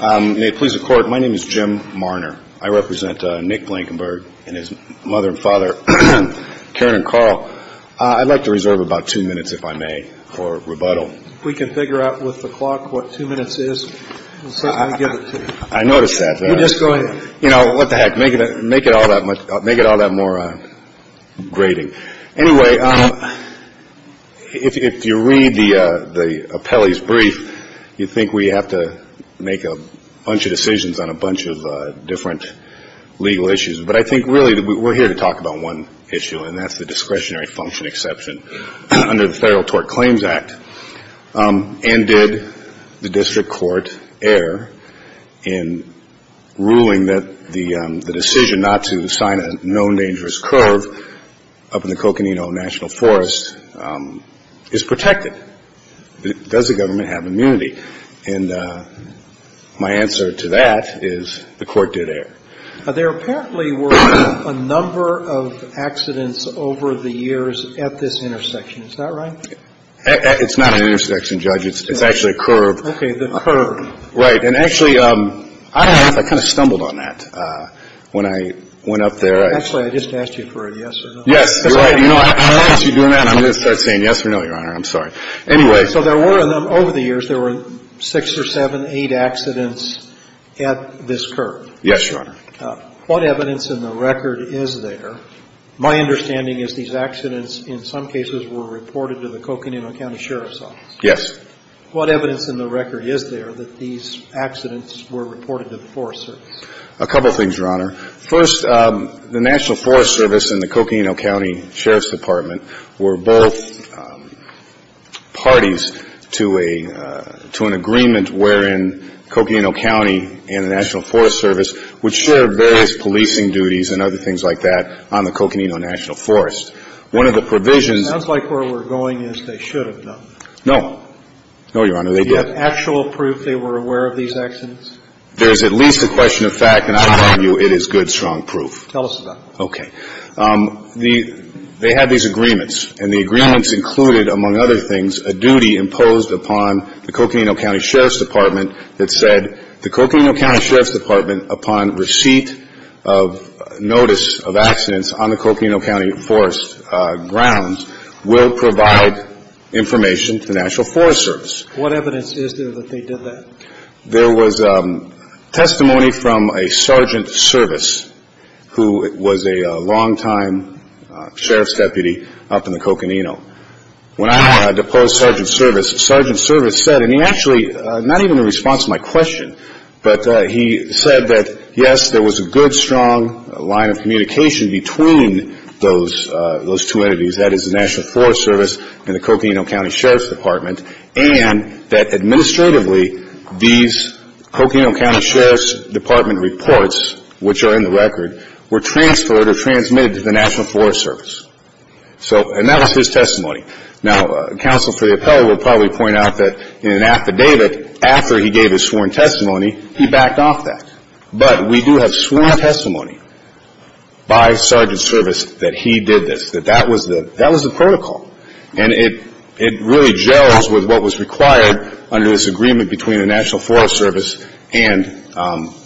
May it please the Court, my name is Jim Marner. I represent Nick Blankenburg and his mother and father, Karen and Carl. I'd like to reserve about two minutes, if I may, for rebuttal. If we can figure out with the clock what two minutes is, we'll certainly give it to you. I noticed that. You know, what the heck, make it all that more grating. Anyway, if you read the appellee's brief, you think we have to make a bunch of decisions on a bunch of different legal issues. But I think really we're here to talk about one issue, and that's the discretionary function exception under the Federal Tort Claims Act. And did the District Court err in ruling that the decision not to sign a known dangerous curve up in the Coconino National Forest is protected? Does the government have immunity? And my answer to that is the Court did err. There apparently were a number of accidents over the years at this intersection. Is that right? It's not an intersection, Judge. It's actually a curve. Okay. The curve. Right. And actually, I don't know if I kind of stumbled on that when I went up there. Actually, I just asked you for a yes or no. Yes. You're right. You know, I don't want you doing that. I'm going to start saying yes or no, Your Honor. I'm sorry. Anyway. So there were, over the years, there were six or seven, eight accidents at this curve. Yes, Your Honor. What evidence in the record is there, my understanding is these accidents in some cases were reported to the Coconino County Sheriff's Office. Yes. What evidence in the record is there that these accidents were reported to the Forest Service? A couple things, Your Honor. First, the National Forest Service and the Coconino County Sheriff's Department were both parties to a — to an agreement wherein Coconino County and the National Forest Service would share various policing duties and other things like that on the Coconino National Forest. One of the provisions — It sounds like where we're going is they should have done that. No. No, Your Honor. They did. Do you have actual proof they were aware of these accidents? There's at least a question of fact, and I'll tell you it is good, strong proof. Tell us about it. Okay. The — they had these agreements, and the agreements included, among other things, a duty imposed upon the Coconino County Sheriff's Department that said the Coconino County Sheriff's Department, upon receipt of notice of accidents on the Coconino County Forest grounds, will provide information to the National Forest Service. What evidence is there that they did that? There was testimony from a sergeant service who was a longtime sheriff's deputy up in the Coconino. When I deposed sergeant service, sergeant service said — and he actually, not even in response to my question, but he said that, yes, there was a good, strong line of communication between those two entities, that is the National Forest Service and the Coconino County Sheriff's Department reports, which are in the record, were transferred or transmitted to the National Forest Service. So — and that was his testimony. Now, counsel for the appellate will probably point out that in an affidavit, after he gave his sworn testimony, he backed off that. But we do have sworn testimony by sergeant service that he did this, that that was the — that was the protocol. And it — it really gels with what was required under this agreement between the National Forest Service and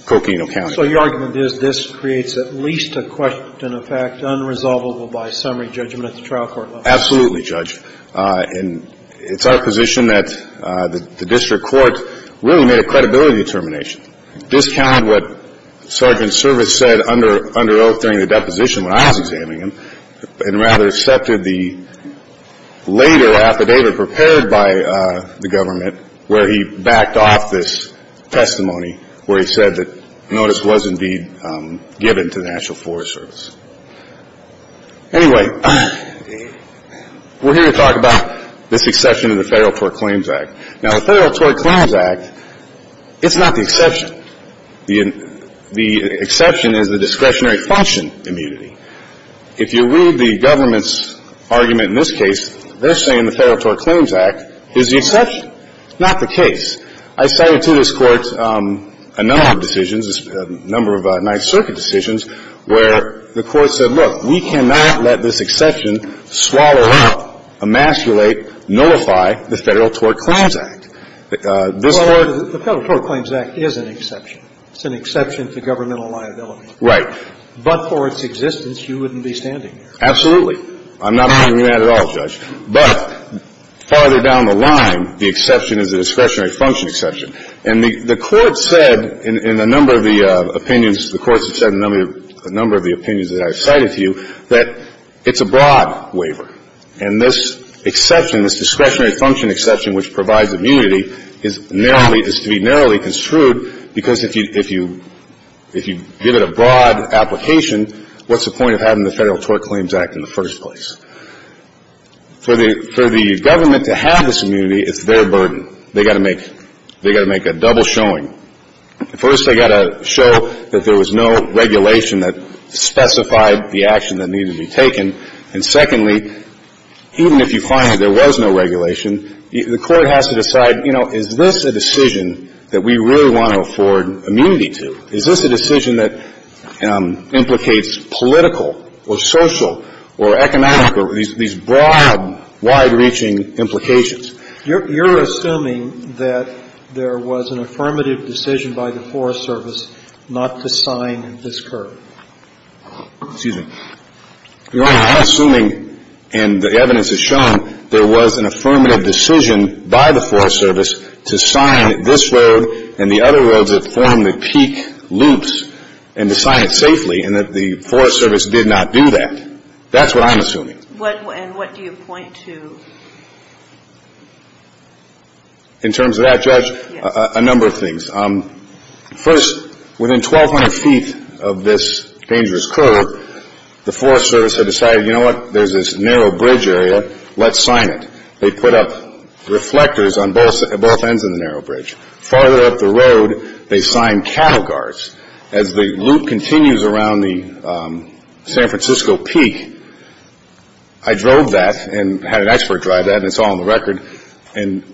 Coconino County. So your argument is this creates at least a question of fact unresolvable by summary judgment at the trial court level? Absolutely, Judge. And it's our position that the district court really made a credibility determination, discounted what sergeant service said under oath during the deposition when I was examining him, and rather accepted the later affidavit prepared by the government where he backed off this testimony where he said that notice was indeed given to the National Forest Service. Anyway, we're here to talk about this exception of the Federal Tort Claims Act. Now, the Federal Tort Claims Act, it's not the exception. The exception is the discretionary function immunity. If you read the government's argument in this case, they're saying the Federal Tort Claims Act is the exception. It's not the case. I cited to this Court a number of decisions, a number of Ninth Circuit decisions, where the Court said, look, we cannot let this exception swallow up, emasculate, nullify the Federal Tort Claims Act. This Court — Well, the Federal Tort Claims Act is an exception. It's an exception to governmental liability. Right. But for its existence, you wouldn't be standing here. Absolutely. I'm not saying that at all, Judge. But farther down the line, the exception is a discretionary function exception. And the Court said in a number of the opinions — the Court said in a number of the opinions that I cited to you that it's a broad waiver. And this exception, this discretionary function exception which provides immunity, is narrowly — is to be narrowly construed because if you — if you give it a broad application, what's the point of having the Federal Tort Claims Act in the first place? For the — for the government to have this immunity, it's their burden. They've got to make — they've got to make a double showing. First, they've got to show that there was no regulation that specified the action that needed to be taken. And secondly, even if you find that there was no regulation, the Court has to decide, you know, is this a decision that we really want to afford immunity to? Is this a decision that implicates political or social or economic or these broad, wide-reaching implications? You're assuming that there was an affirmative decision by the Forest Service not to sign this curve. Excuse me. Your Honor, I'm assuming, and the evidence has shown, there was an affirmative decision by the Forest Service to sign this road and the other roads that form the peak loops and to sign it safely, and that the Forest Service did not do that. That's what I'm assuming. And what do you point to? In terms of that, Judge, a number of things. First, within 1,200 feet of this dangerous curve, the Forest Service had decided, you know, let's sign it. They put up reflectors on both ends of the narrow bridge. Farther up the road, they signed cattle guards. As the loop continues around the San Francisco peak, I drove that and had an expert drive that, and it's all on the record. And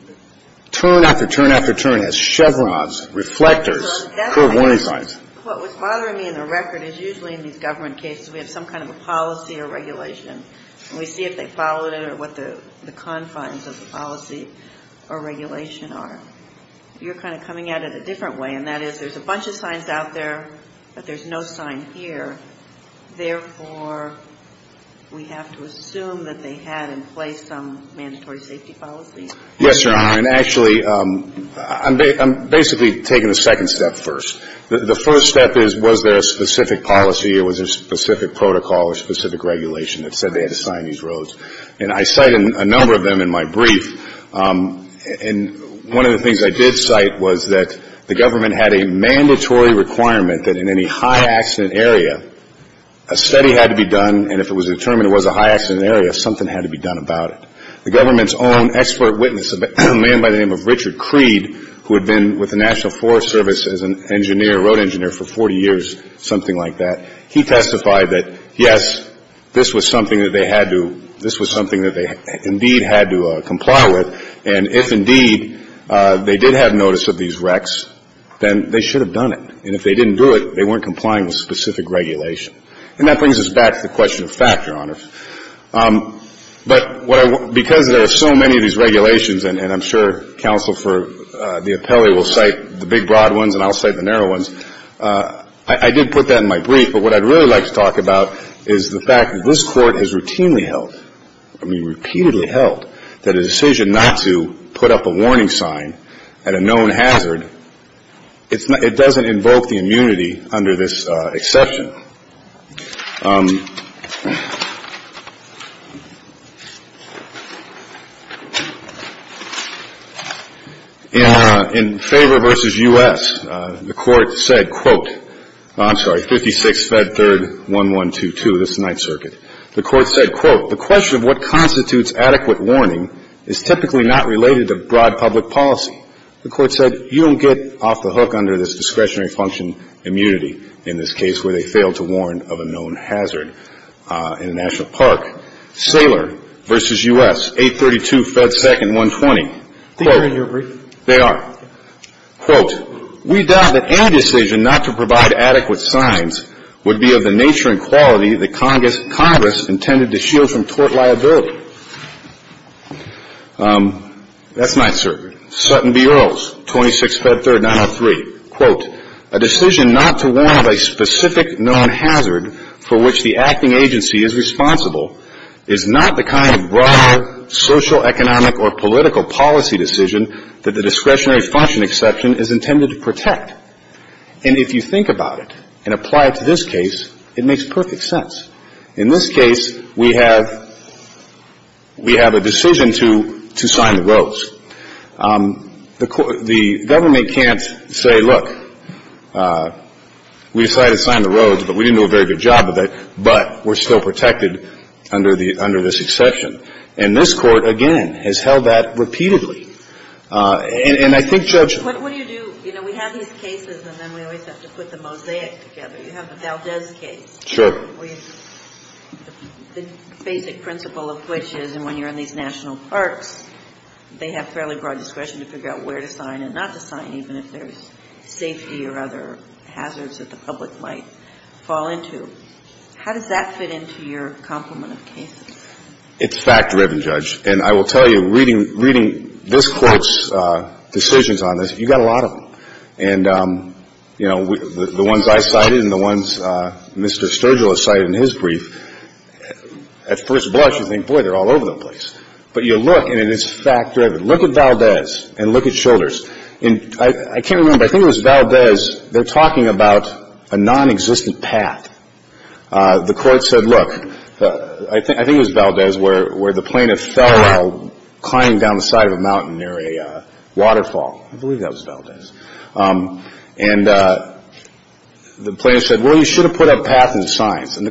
turn after turn after turn, it has chevrons, reflectors, curve warning signs. What was bothering me in the record is usually in these government cases, we have some kind of a policy or regulation, and we see if they followed it or what the confines of the policy or regulation are. You're kind of coming at it a different way, and that is there's a bunch of signs out there, but there's no sign here. Therefore, we have to assume that they had in place some mandatory safety policy. Yes, Your Honor. And actually, I'm basically taking the second step first. The first step is, was there a specific policy or was there a specific protocol or specific regulation that said they had to sign these roads? And I cited a number of them in my brief. And one of the things I did cite was that the government had a mandatory requirement that in any high accident area, a study had to be done, and if it was determined it was a high accident area, something had to be done about it. The government's own expert witness, a man by the name of Richard Creed, who had been with the National Forest Service as an engineer, road engineer, for 40 years, something like that, he testified that, yes, this was something that they had to, this was something that they indeed had to comply with, and if indeed they did have notice of these wrecks, then they should have done it. And if they didn't do it, they weren't complying with specific regulation. And that brings us back to the question of fact, Your Honor. But because there are so many of these regulations, and I'm sure Counsel for the Appellee will cite the big broad ones and I'll cite the narrow ones, I did put that in my brief. But what I'd really like to talk about is the fact that this Court has routinely held, I mean repeatedly held, that a decision not to put up a warning sign at a known hazard, it doesn't invoke the immunity under this exception. In Faber v. U.S., the Court said, quote, I'm sorry, 56 Fed 3rd 1122, this is the Ninth Circuit. The Court said, quote, the question of what constitutes adequate warning is typically not related to broad public policy. The Court said you don't get off the hook under this discretionary function immunity in this case where they failed to warn of a known hazard. In the National Park, Saylor v. U.S., 832 Fed 2nd 120. I think they're in your brief. They are. Quote, we doubt that any decision not to provide adequate signs would be of the nature and quality that Congress intended to shield from tort liability. That's known hazard for which the acting agency is responsible is not the kind of broad social, economic, or political policy decision that the discretionary function exception is intended to protect. And if you think about it and apply it to this case, it makes perfect sense. In this case, we have we have a decision to sign the roads, but we didn't do a very good job of it, but we're still protected under the under this exception. And this Court, again, has held that repeatedly. And I think Judge ---- What do you do? You know, we have these cases and then we always have to put the mosaic together. You have the Valdez case. Sure. The basic principle of which is when you're in these national parks, they have fairly broad discretion to figure out where to sign and not to sign, even if there's safety or other hazards that the public might fall into. How does that fit into your complement of cases? It's fact-driven, Judge. And I will tell you, reading this Court's decisions on this, you got a lot of them. And, you know, the ones I cited and the ones Mr. Sturgill has cited in his brief, at first blush you think, boy, they're all over the place. But you look and it's fact-driven. Look at Valdez and look at Childers. And I can't remember, I think it was Valdez, they're talking about a nonexistent path. The Court said, look, I think it was Valdez where the plaintiff fell while climbing down the side of a mountain near a waterfall. I believe that was Valdez. And the plaintiff said, well, you should have put a path and signs. And the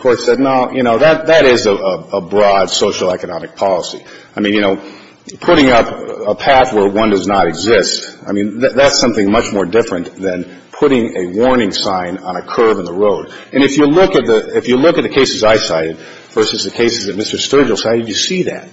Court said, no, you know, that is a broad socioeconomic policy. I mean, you know, putting up a path where one does not exist, I mean, that's something much more different than putting a warning sign on a curve in the road. And if you look at the cases I cited versus the cases that Mr. Sturgill cited, you see that.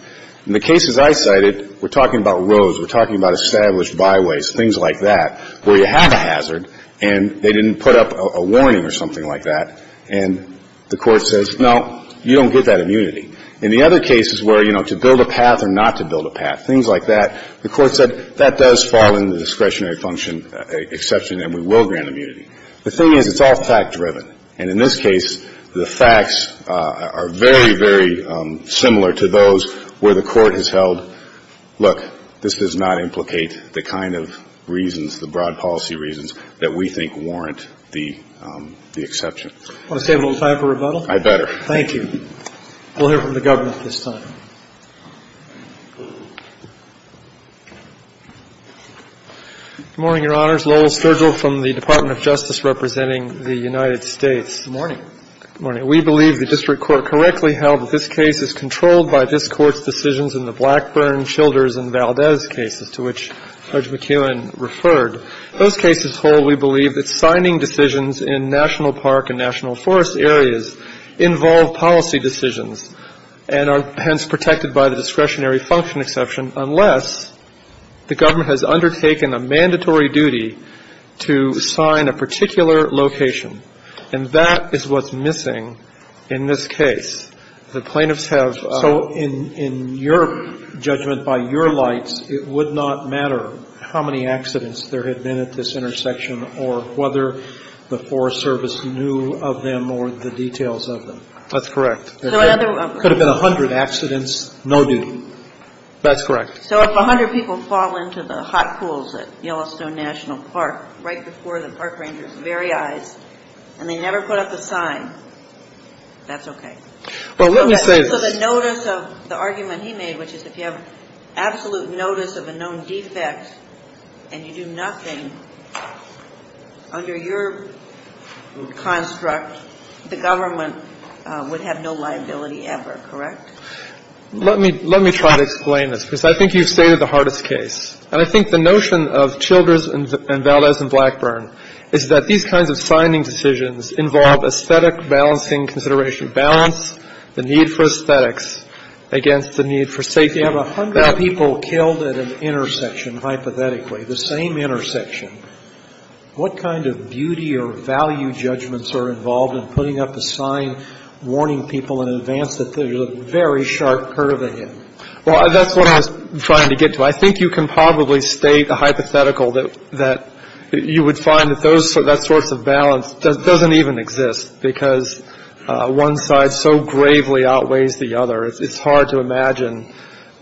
In the cases I cited, we're talking about roads, we're talking about established byways, things like that, where you have a hazard and they didn't put up a warning or anything, the Court says, no, you don't get that immunity. In the other cases where, you know, to build a path or not to build a path, things like that, the Court said that does fall into the discretionary function exception and we will grant immunity. The thing is, it's all fact-driven. And in this case, the facts are very, very similar to those where the Court has held, look, this does not implicate the kind of reasons, the broad policy reasons that we think warrant the exception. Do you want to save a little time for rebuttal? I better. Thank you. We'll hear from the government this time. Good morning, Your Honors. Lowell Sturgill from the Department of Justice representing the United States. Good morning. Good morning. We believe the district court correctly held that this case is controlled by this Court's decisions in the Blackburn, Childers and Valdez cases to which Judge McKeown referred. Those cases hold, we believe, that signing decisions in national park and national forest areas involve policy decisions and are hence protected by the discretionary function exception unless the government has undertaken a mandatory duty to sign a particular location. And that is what's missing in this case. The plaintiffs have ---- So in your judgment, by your lights, it would not matter how many accidents there had been at this intersection or whether the Forest Service knew of them or the details of them. That's correct. So another ---- It could have been a hundred accidents, no duty. That's correct. So if a hundred people fall into the hot pools at Yellowstone National Park right before the park ranger's very eyes and they never put up a sign, that's okay. Well, let me say this. So the notice of the argument he made, which is if you have absolute notice of a known defect and you do nothing, under your construct, the government would have no liability ever, correct? Let me try to explain this, because I think you've stated the hardest case. And I think the notion of Childers and Valdez and Blackburn is that these kinds of signing decisions involve aesthetic balancing consideration, balance the need for aesthetics against the need for safety. If you have a hundred people killed at an intersection, hypothetically, the same intersection, what kind of beauty or value judgments are involved in putting up a sign warning people in advance that there's a very sharp curve ahead? Well, that's what I was trying to get to. I think you can probably state a hypothetical that you would find that that sort of balance doesn't even exist because one side so gravely outweighs the other. It's hard to imagine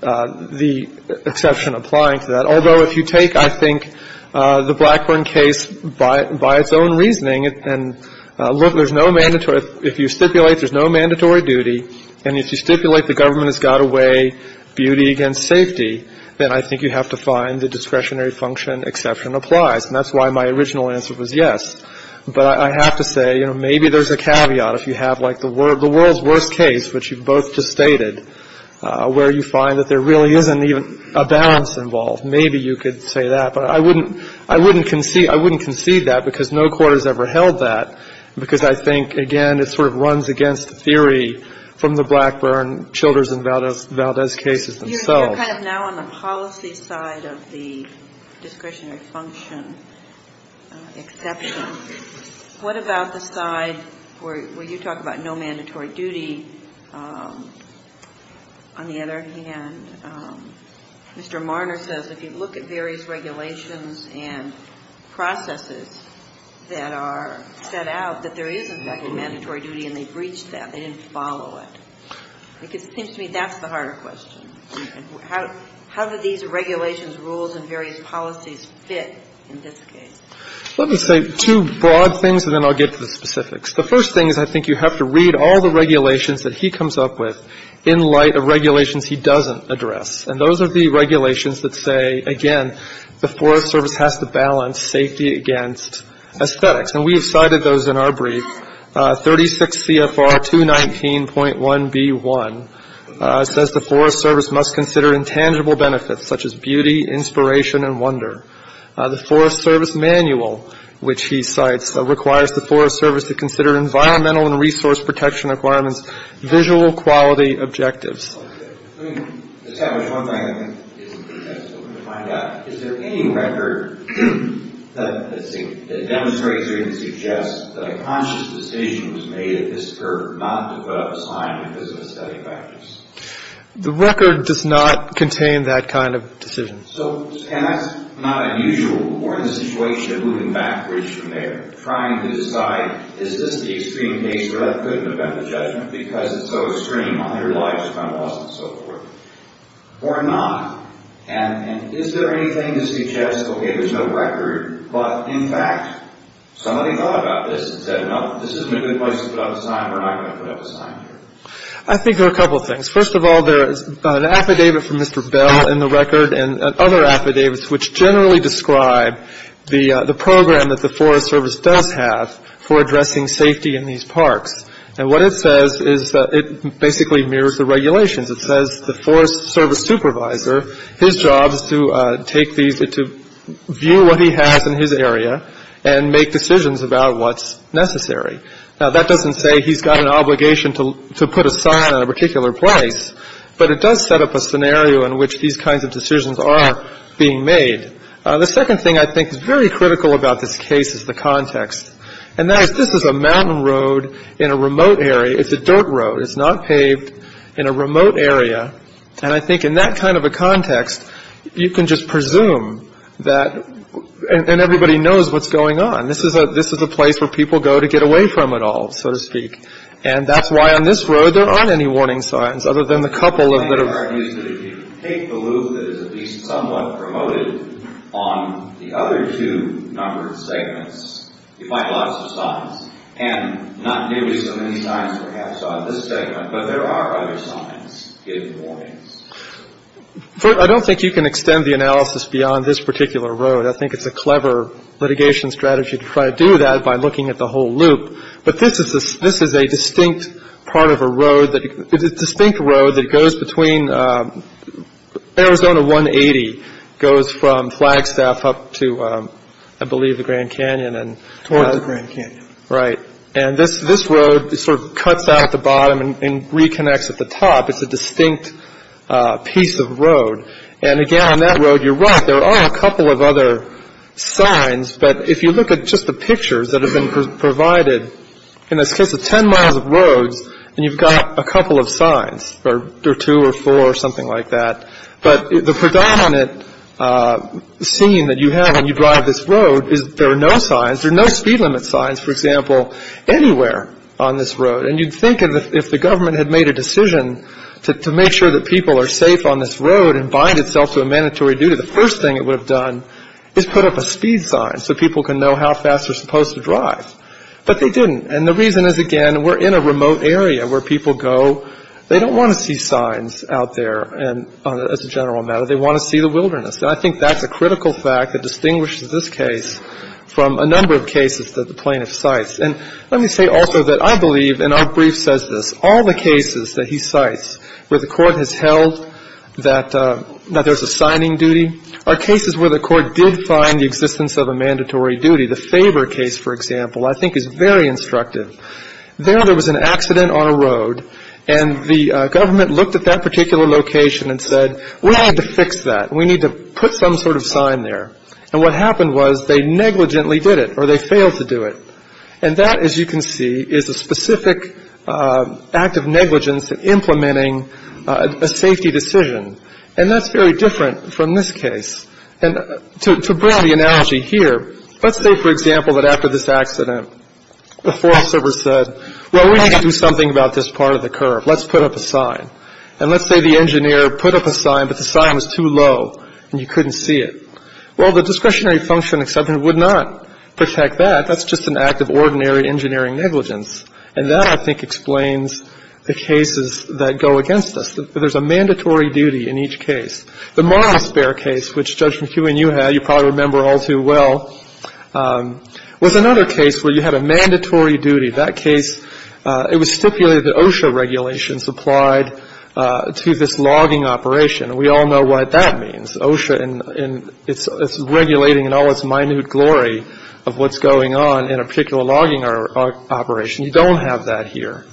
the exception applying to that. Although, if you take, I think, the Blackburn case by its own reasoning, and look, there's no mandatory — if you stipulate there's no mandatory duty, and if you stipulate the government has got to weigh beauty against safety, then I think you have to find the discretionary function exception applies. And that's why my original answer was yes. But I have to say, you know, maybe there's a caveat. If you have like the world's worst case, which you both just stated, where you find that there really isn't even a balance involved, maybe you could say that. But I wouldn't concede that because no court has ever held that, because I think, again, it sort of runs against the theory from the Blackburn, Childers, and Valdez cases themselves. You're kind of now on the policy side of the discretionary function exception. What about the side where you talk about no mandatory duty? On the other hand, Mr. Marner says if you look at various regulations and processes that are set out, that there is, in fact, a mandatory duty, and they breach that. They didn't follow it. It seems to me that's the harder question. How do these regulations, rules, and various policies fit in this case? Let me say two broad things, and then I'll get to the specifics. The first thing is I think you have to read all the regulations that he comes up with in light of regulations he doesn't address. And those are the regulations that say, again, the Forest Service has to balance safety against aesthetics. And we have cited those in our brief. 36 CFR 219.1b1 says the Forest Service must consider intangible benefits such as beauty, inspiration, and wonder. The Forest Service manual, which he cites, requires the Forest Service to consider environmental and resource protection requirements, visual quality objectives. Let me establish one thing I think is important to find out. Is there any record that demonstrates or even suggests that a conscious decision was made at this curve not to put up a sign in a business study practice? The record does not contain that kind of decision. So, again, that's not unusual. We're in a situation of moving backwards from there, trying to decide, is this the extreme case where that couldn't have been the judgment because it's so extreme on their lives if I'm lost and so forth? Or not. And is there anything to suggest, okay, there's no record, but, in fact, somebody thought about this and said, no, this isn't a good place to put up a sign. We're not going to put up a sign here. I think there are a couple of things. First of all, there is an affidavit from Mr. Bell in the record and other affidavits which generally describe the program that the Forest Service does have for addressing safety in these parks. And what it says is it basically mirrors the regulations. It says the Forest Service supervisor, his job is to take these, to view what he has in his area and make decisions about what's necessary. Now, that doesn't say he's got an obligation to put a sign on a particular place, but it does set up a scenario in which these kinds of decisions are being made. The second thing I think is very critical about this case is the context. And that is this is a mountain road in a remote area. It's a dirt road. It's not paved in a remote area. And I think in that kind of a context, you can just presume that, and everybody knows what's going on. This is a place where people go to get away from it all, so to speak. And that's why on this road there aren't any warning signs, other than the couple that are ---- Breyer. I have the idea that if you take the loop that is at least somewhat promoted on the other two numbered segments, you find lots of signs. And not nearly so many signs, perhaps, on this segment, but there are other signs giving warnings. Fisher. I don't think you can extend the analysis beyond this particular road. I think it's a clever litigation strategy to try to do that by looking at the whole loop. But this is a distinct part of a road that goes between Arizona 180 goes from Flagstaff up to, I believe, the Grand Canyon. Towards the Grand Canyon. Right. And this road sort of cuts out at the bottom and reconnects at the top. It's a distinct piece of road. And, again, on that road, you're right. There are a couple of other signs. But if you look at just the pictures that have been provided, in this case of 10 miles of roads, and you've got a couple of signs or two or four or something like that. But the predominant scene that you have when you drive this road is there are no signs. There are no speed limit signs, for example, anywhere on this road. And you'd think if the government had made a decision to make sure that people are safe on this road and bind itself to a mandatory duty, the first thing it would have done is put up a speed sign so people can know how fast they're supposed to drive. But they didn't. And the reason is, again, we're in a remote area where people go. They don't want to see signs out there, as a general matter. They want to see the wilderness. And I think that's a critical fact that distinguishes this case from a number of cases that the plaintiff cites. And let me say also that I believe, and our brief says this, all the cases that he cites where the court has held that there's a signing duty are cases where the court did find the existence of a mandatory duty. The Faber case, for example, I think is very instructive. There, there was an accident on a road, and the government looked at that particular location and said, we need to fix that. We need to put some sort of sign there. And what happened was they negligently did it, or they failed to do it. And that, as you can see, is a specific act of negligence in implementing a safety decision. And that's very different from this case. And to bring the analogy here, let's say, for example, that after this accident, the FOIA server said, well, we need to do something about this part of the curve. Let's put up a sign. And let's say the engineer put up a sign, but the sign was too low, and you couldn't see it. Well, the discretionary function would not protect that. That's just an act of ordinary engineering negligence. And that, I think, explains the cases that go against us. There's a mandatory duty in each case. The Marlowe spare case, which, Judge McEwen, you had, you probably remember all too well, was another case where you had a mandatory duty. That case, it was stipulated that OSHA regulations applied to this logging operation. We all know what that means. OSHA is regulating in all its minute glory of what's going on in a particular logging operation. You don't have that here.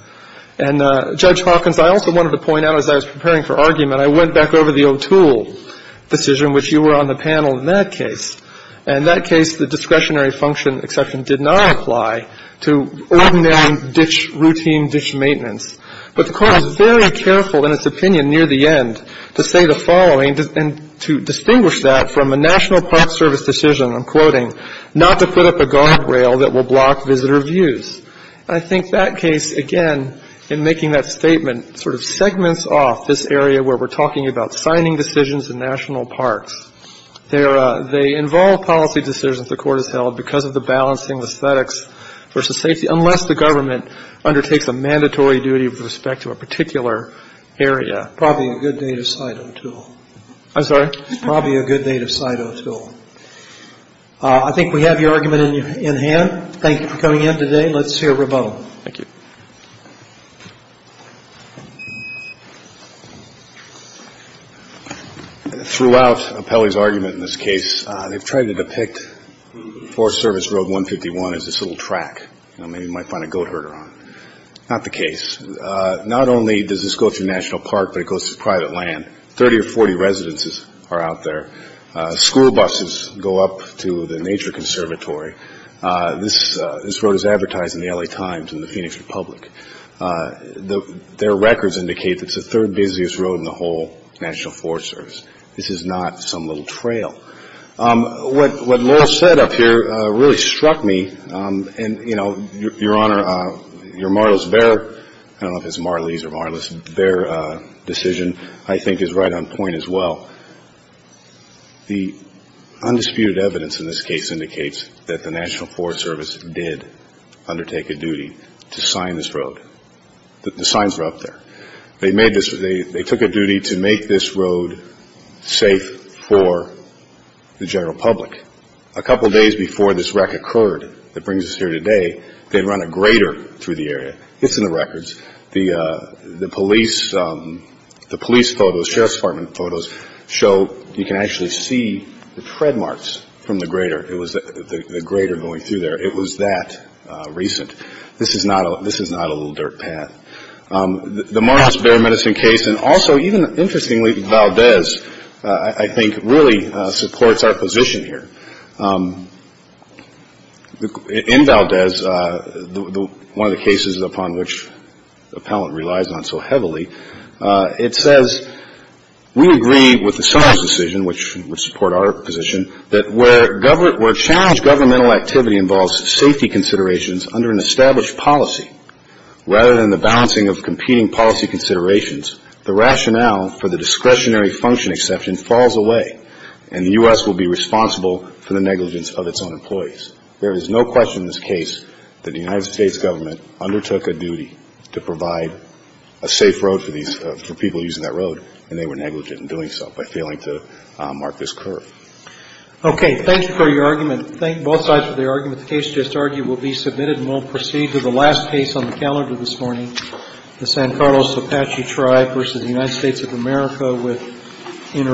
And, Judge Hawkins, I also wanted to point out, as I was preparing for argument, I went back over the O'Toole decision, which you were on the panel in that case. And in that case, the discretionary function exception did not apply to ordinary ditch, routine ditch maintenance. But the Court was very careful in its opinion near the end to say the following and to distinguish that from a National Park Service decision, I'm quoting, not to put up a guardrail that will block visitor views. And I think that case, again, in making that statement, sort of segments off this area where we're talking about signing decisions in national parks. They involve policy decisions the Court has held because of the balancing of aesthetics versus safety, unless the government undertakes a mandatory duty with respect to a particular area. Probably a good day to cite O'Toole. I'm sorry? Probably a good day to cite O'Toole. I think we have your argument in hand. Thank you for coming in today. Let's hear Ramone. Thank you. Throughout Appelli's argument in this case, they've tried to depict Forest Service Road 151 as this little track, you know, maybe you might find a goat herder on it. Not the case. Not only does this go through National Park, but it goes through private land. 30 or 40 residences are out there. School buses go up to the Nature Conservatory. This road is advertised in the L.A. Times and the Phoenix Republic. Their records indicate that it's the third busiest road in the whole National Forest Service. This is not some little trail. What Laurel said up here really struck me. And, you know, Your Honor, your Marlis-Bear, I don't know if it's Marlies or Marlis-Bear decision, I think is right on point as well. The undisputed evidence in this case indicates that the National Forest Service did undertake a duty to sign this road. The signs were up there. They took a duty to make this road safe for the general public. A couple days before this wreck occurred that brings us here today, they run a grader through the area. It's in the records. The police photos, Sheriff's Department photos, show you can actually see the tread marks from the grader. It was the grader going through there. It was that recent. This is not a little dirt path. The Marlis-Bear medicine case and also even, interestingly, Valdez, I think, really supports our position here. In Valdez, one of the cases upon which the appellant relies on so heavily, it says, we agree with the Summers decision, which would support our position, that where challenged governmental activity involves safety considerations under an established policy, rather than the balancing of competing policy considerations, the rationale for the discretionary function exception falls away and the U.S. will be responsible for the negligence of its own employees. There is no question in this case that the United States government undertook a duty to provide a safe road for people using that road, and they were negligent in doing so by failing to mark this curve. Okay. Thank you for your argument. Thank both sides for their argument. The case just argued will be submitted and we'll proceed to the last case on the calendar this morning, the San Carlos Apache Tribe versus the United States of America with intervention.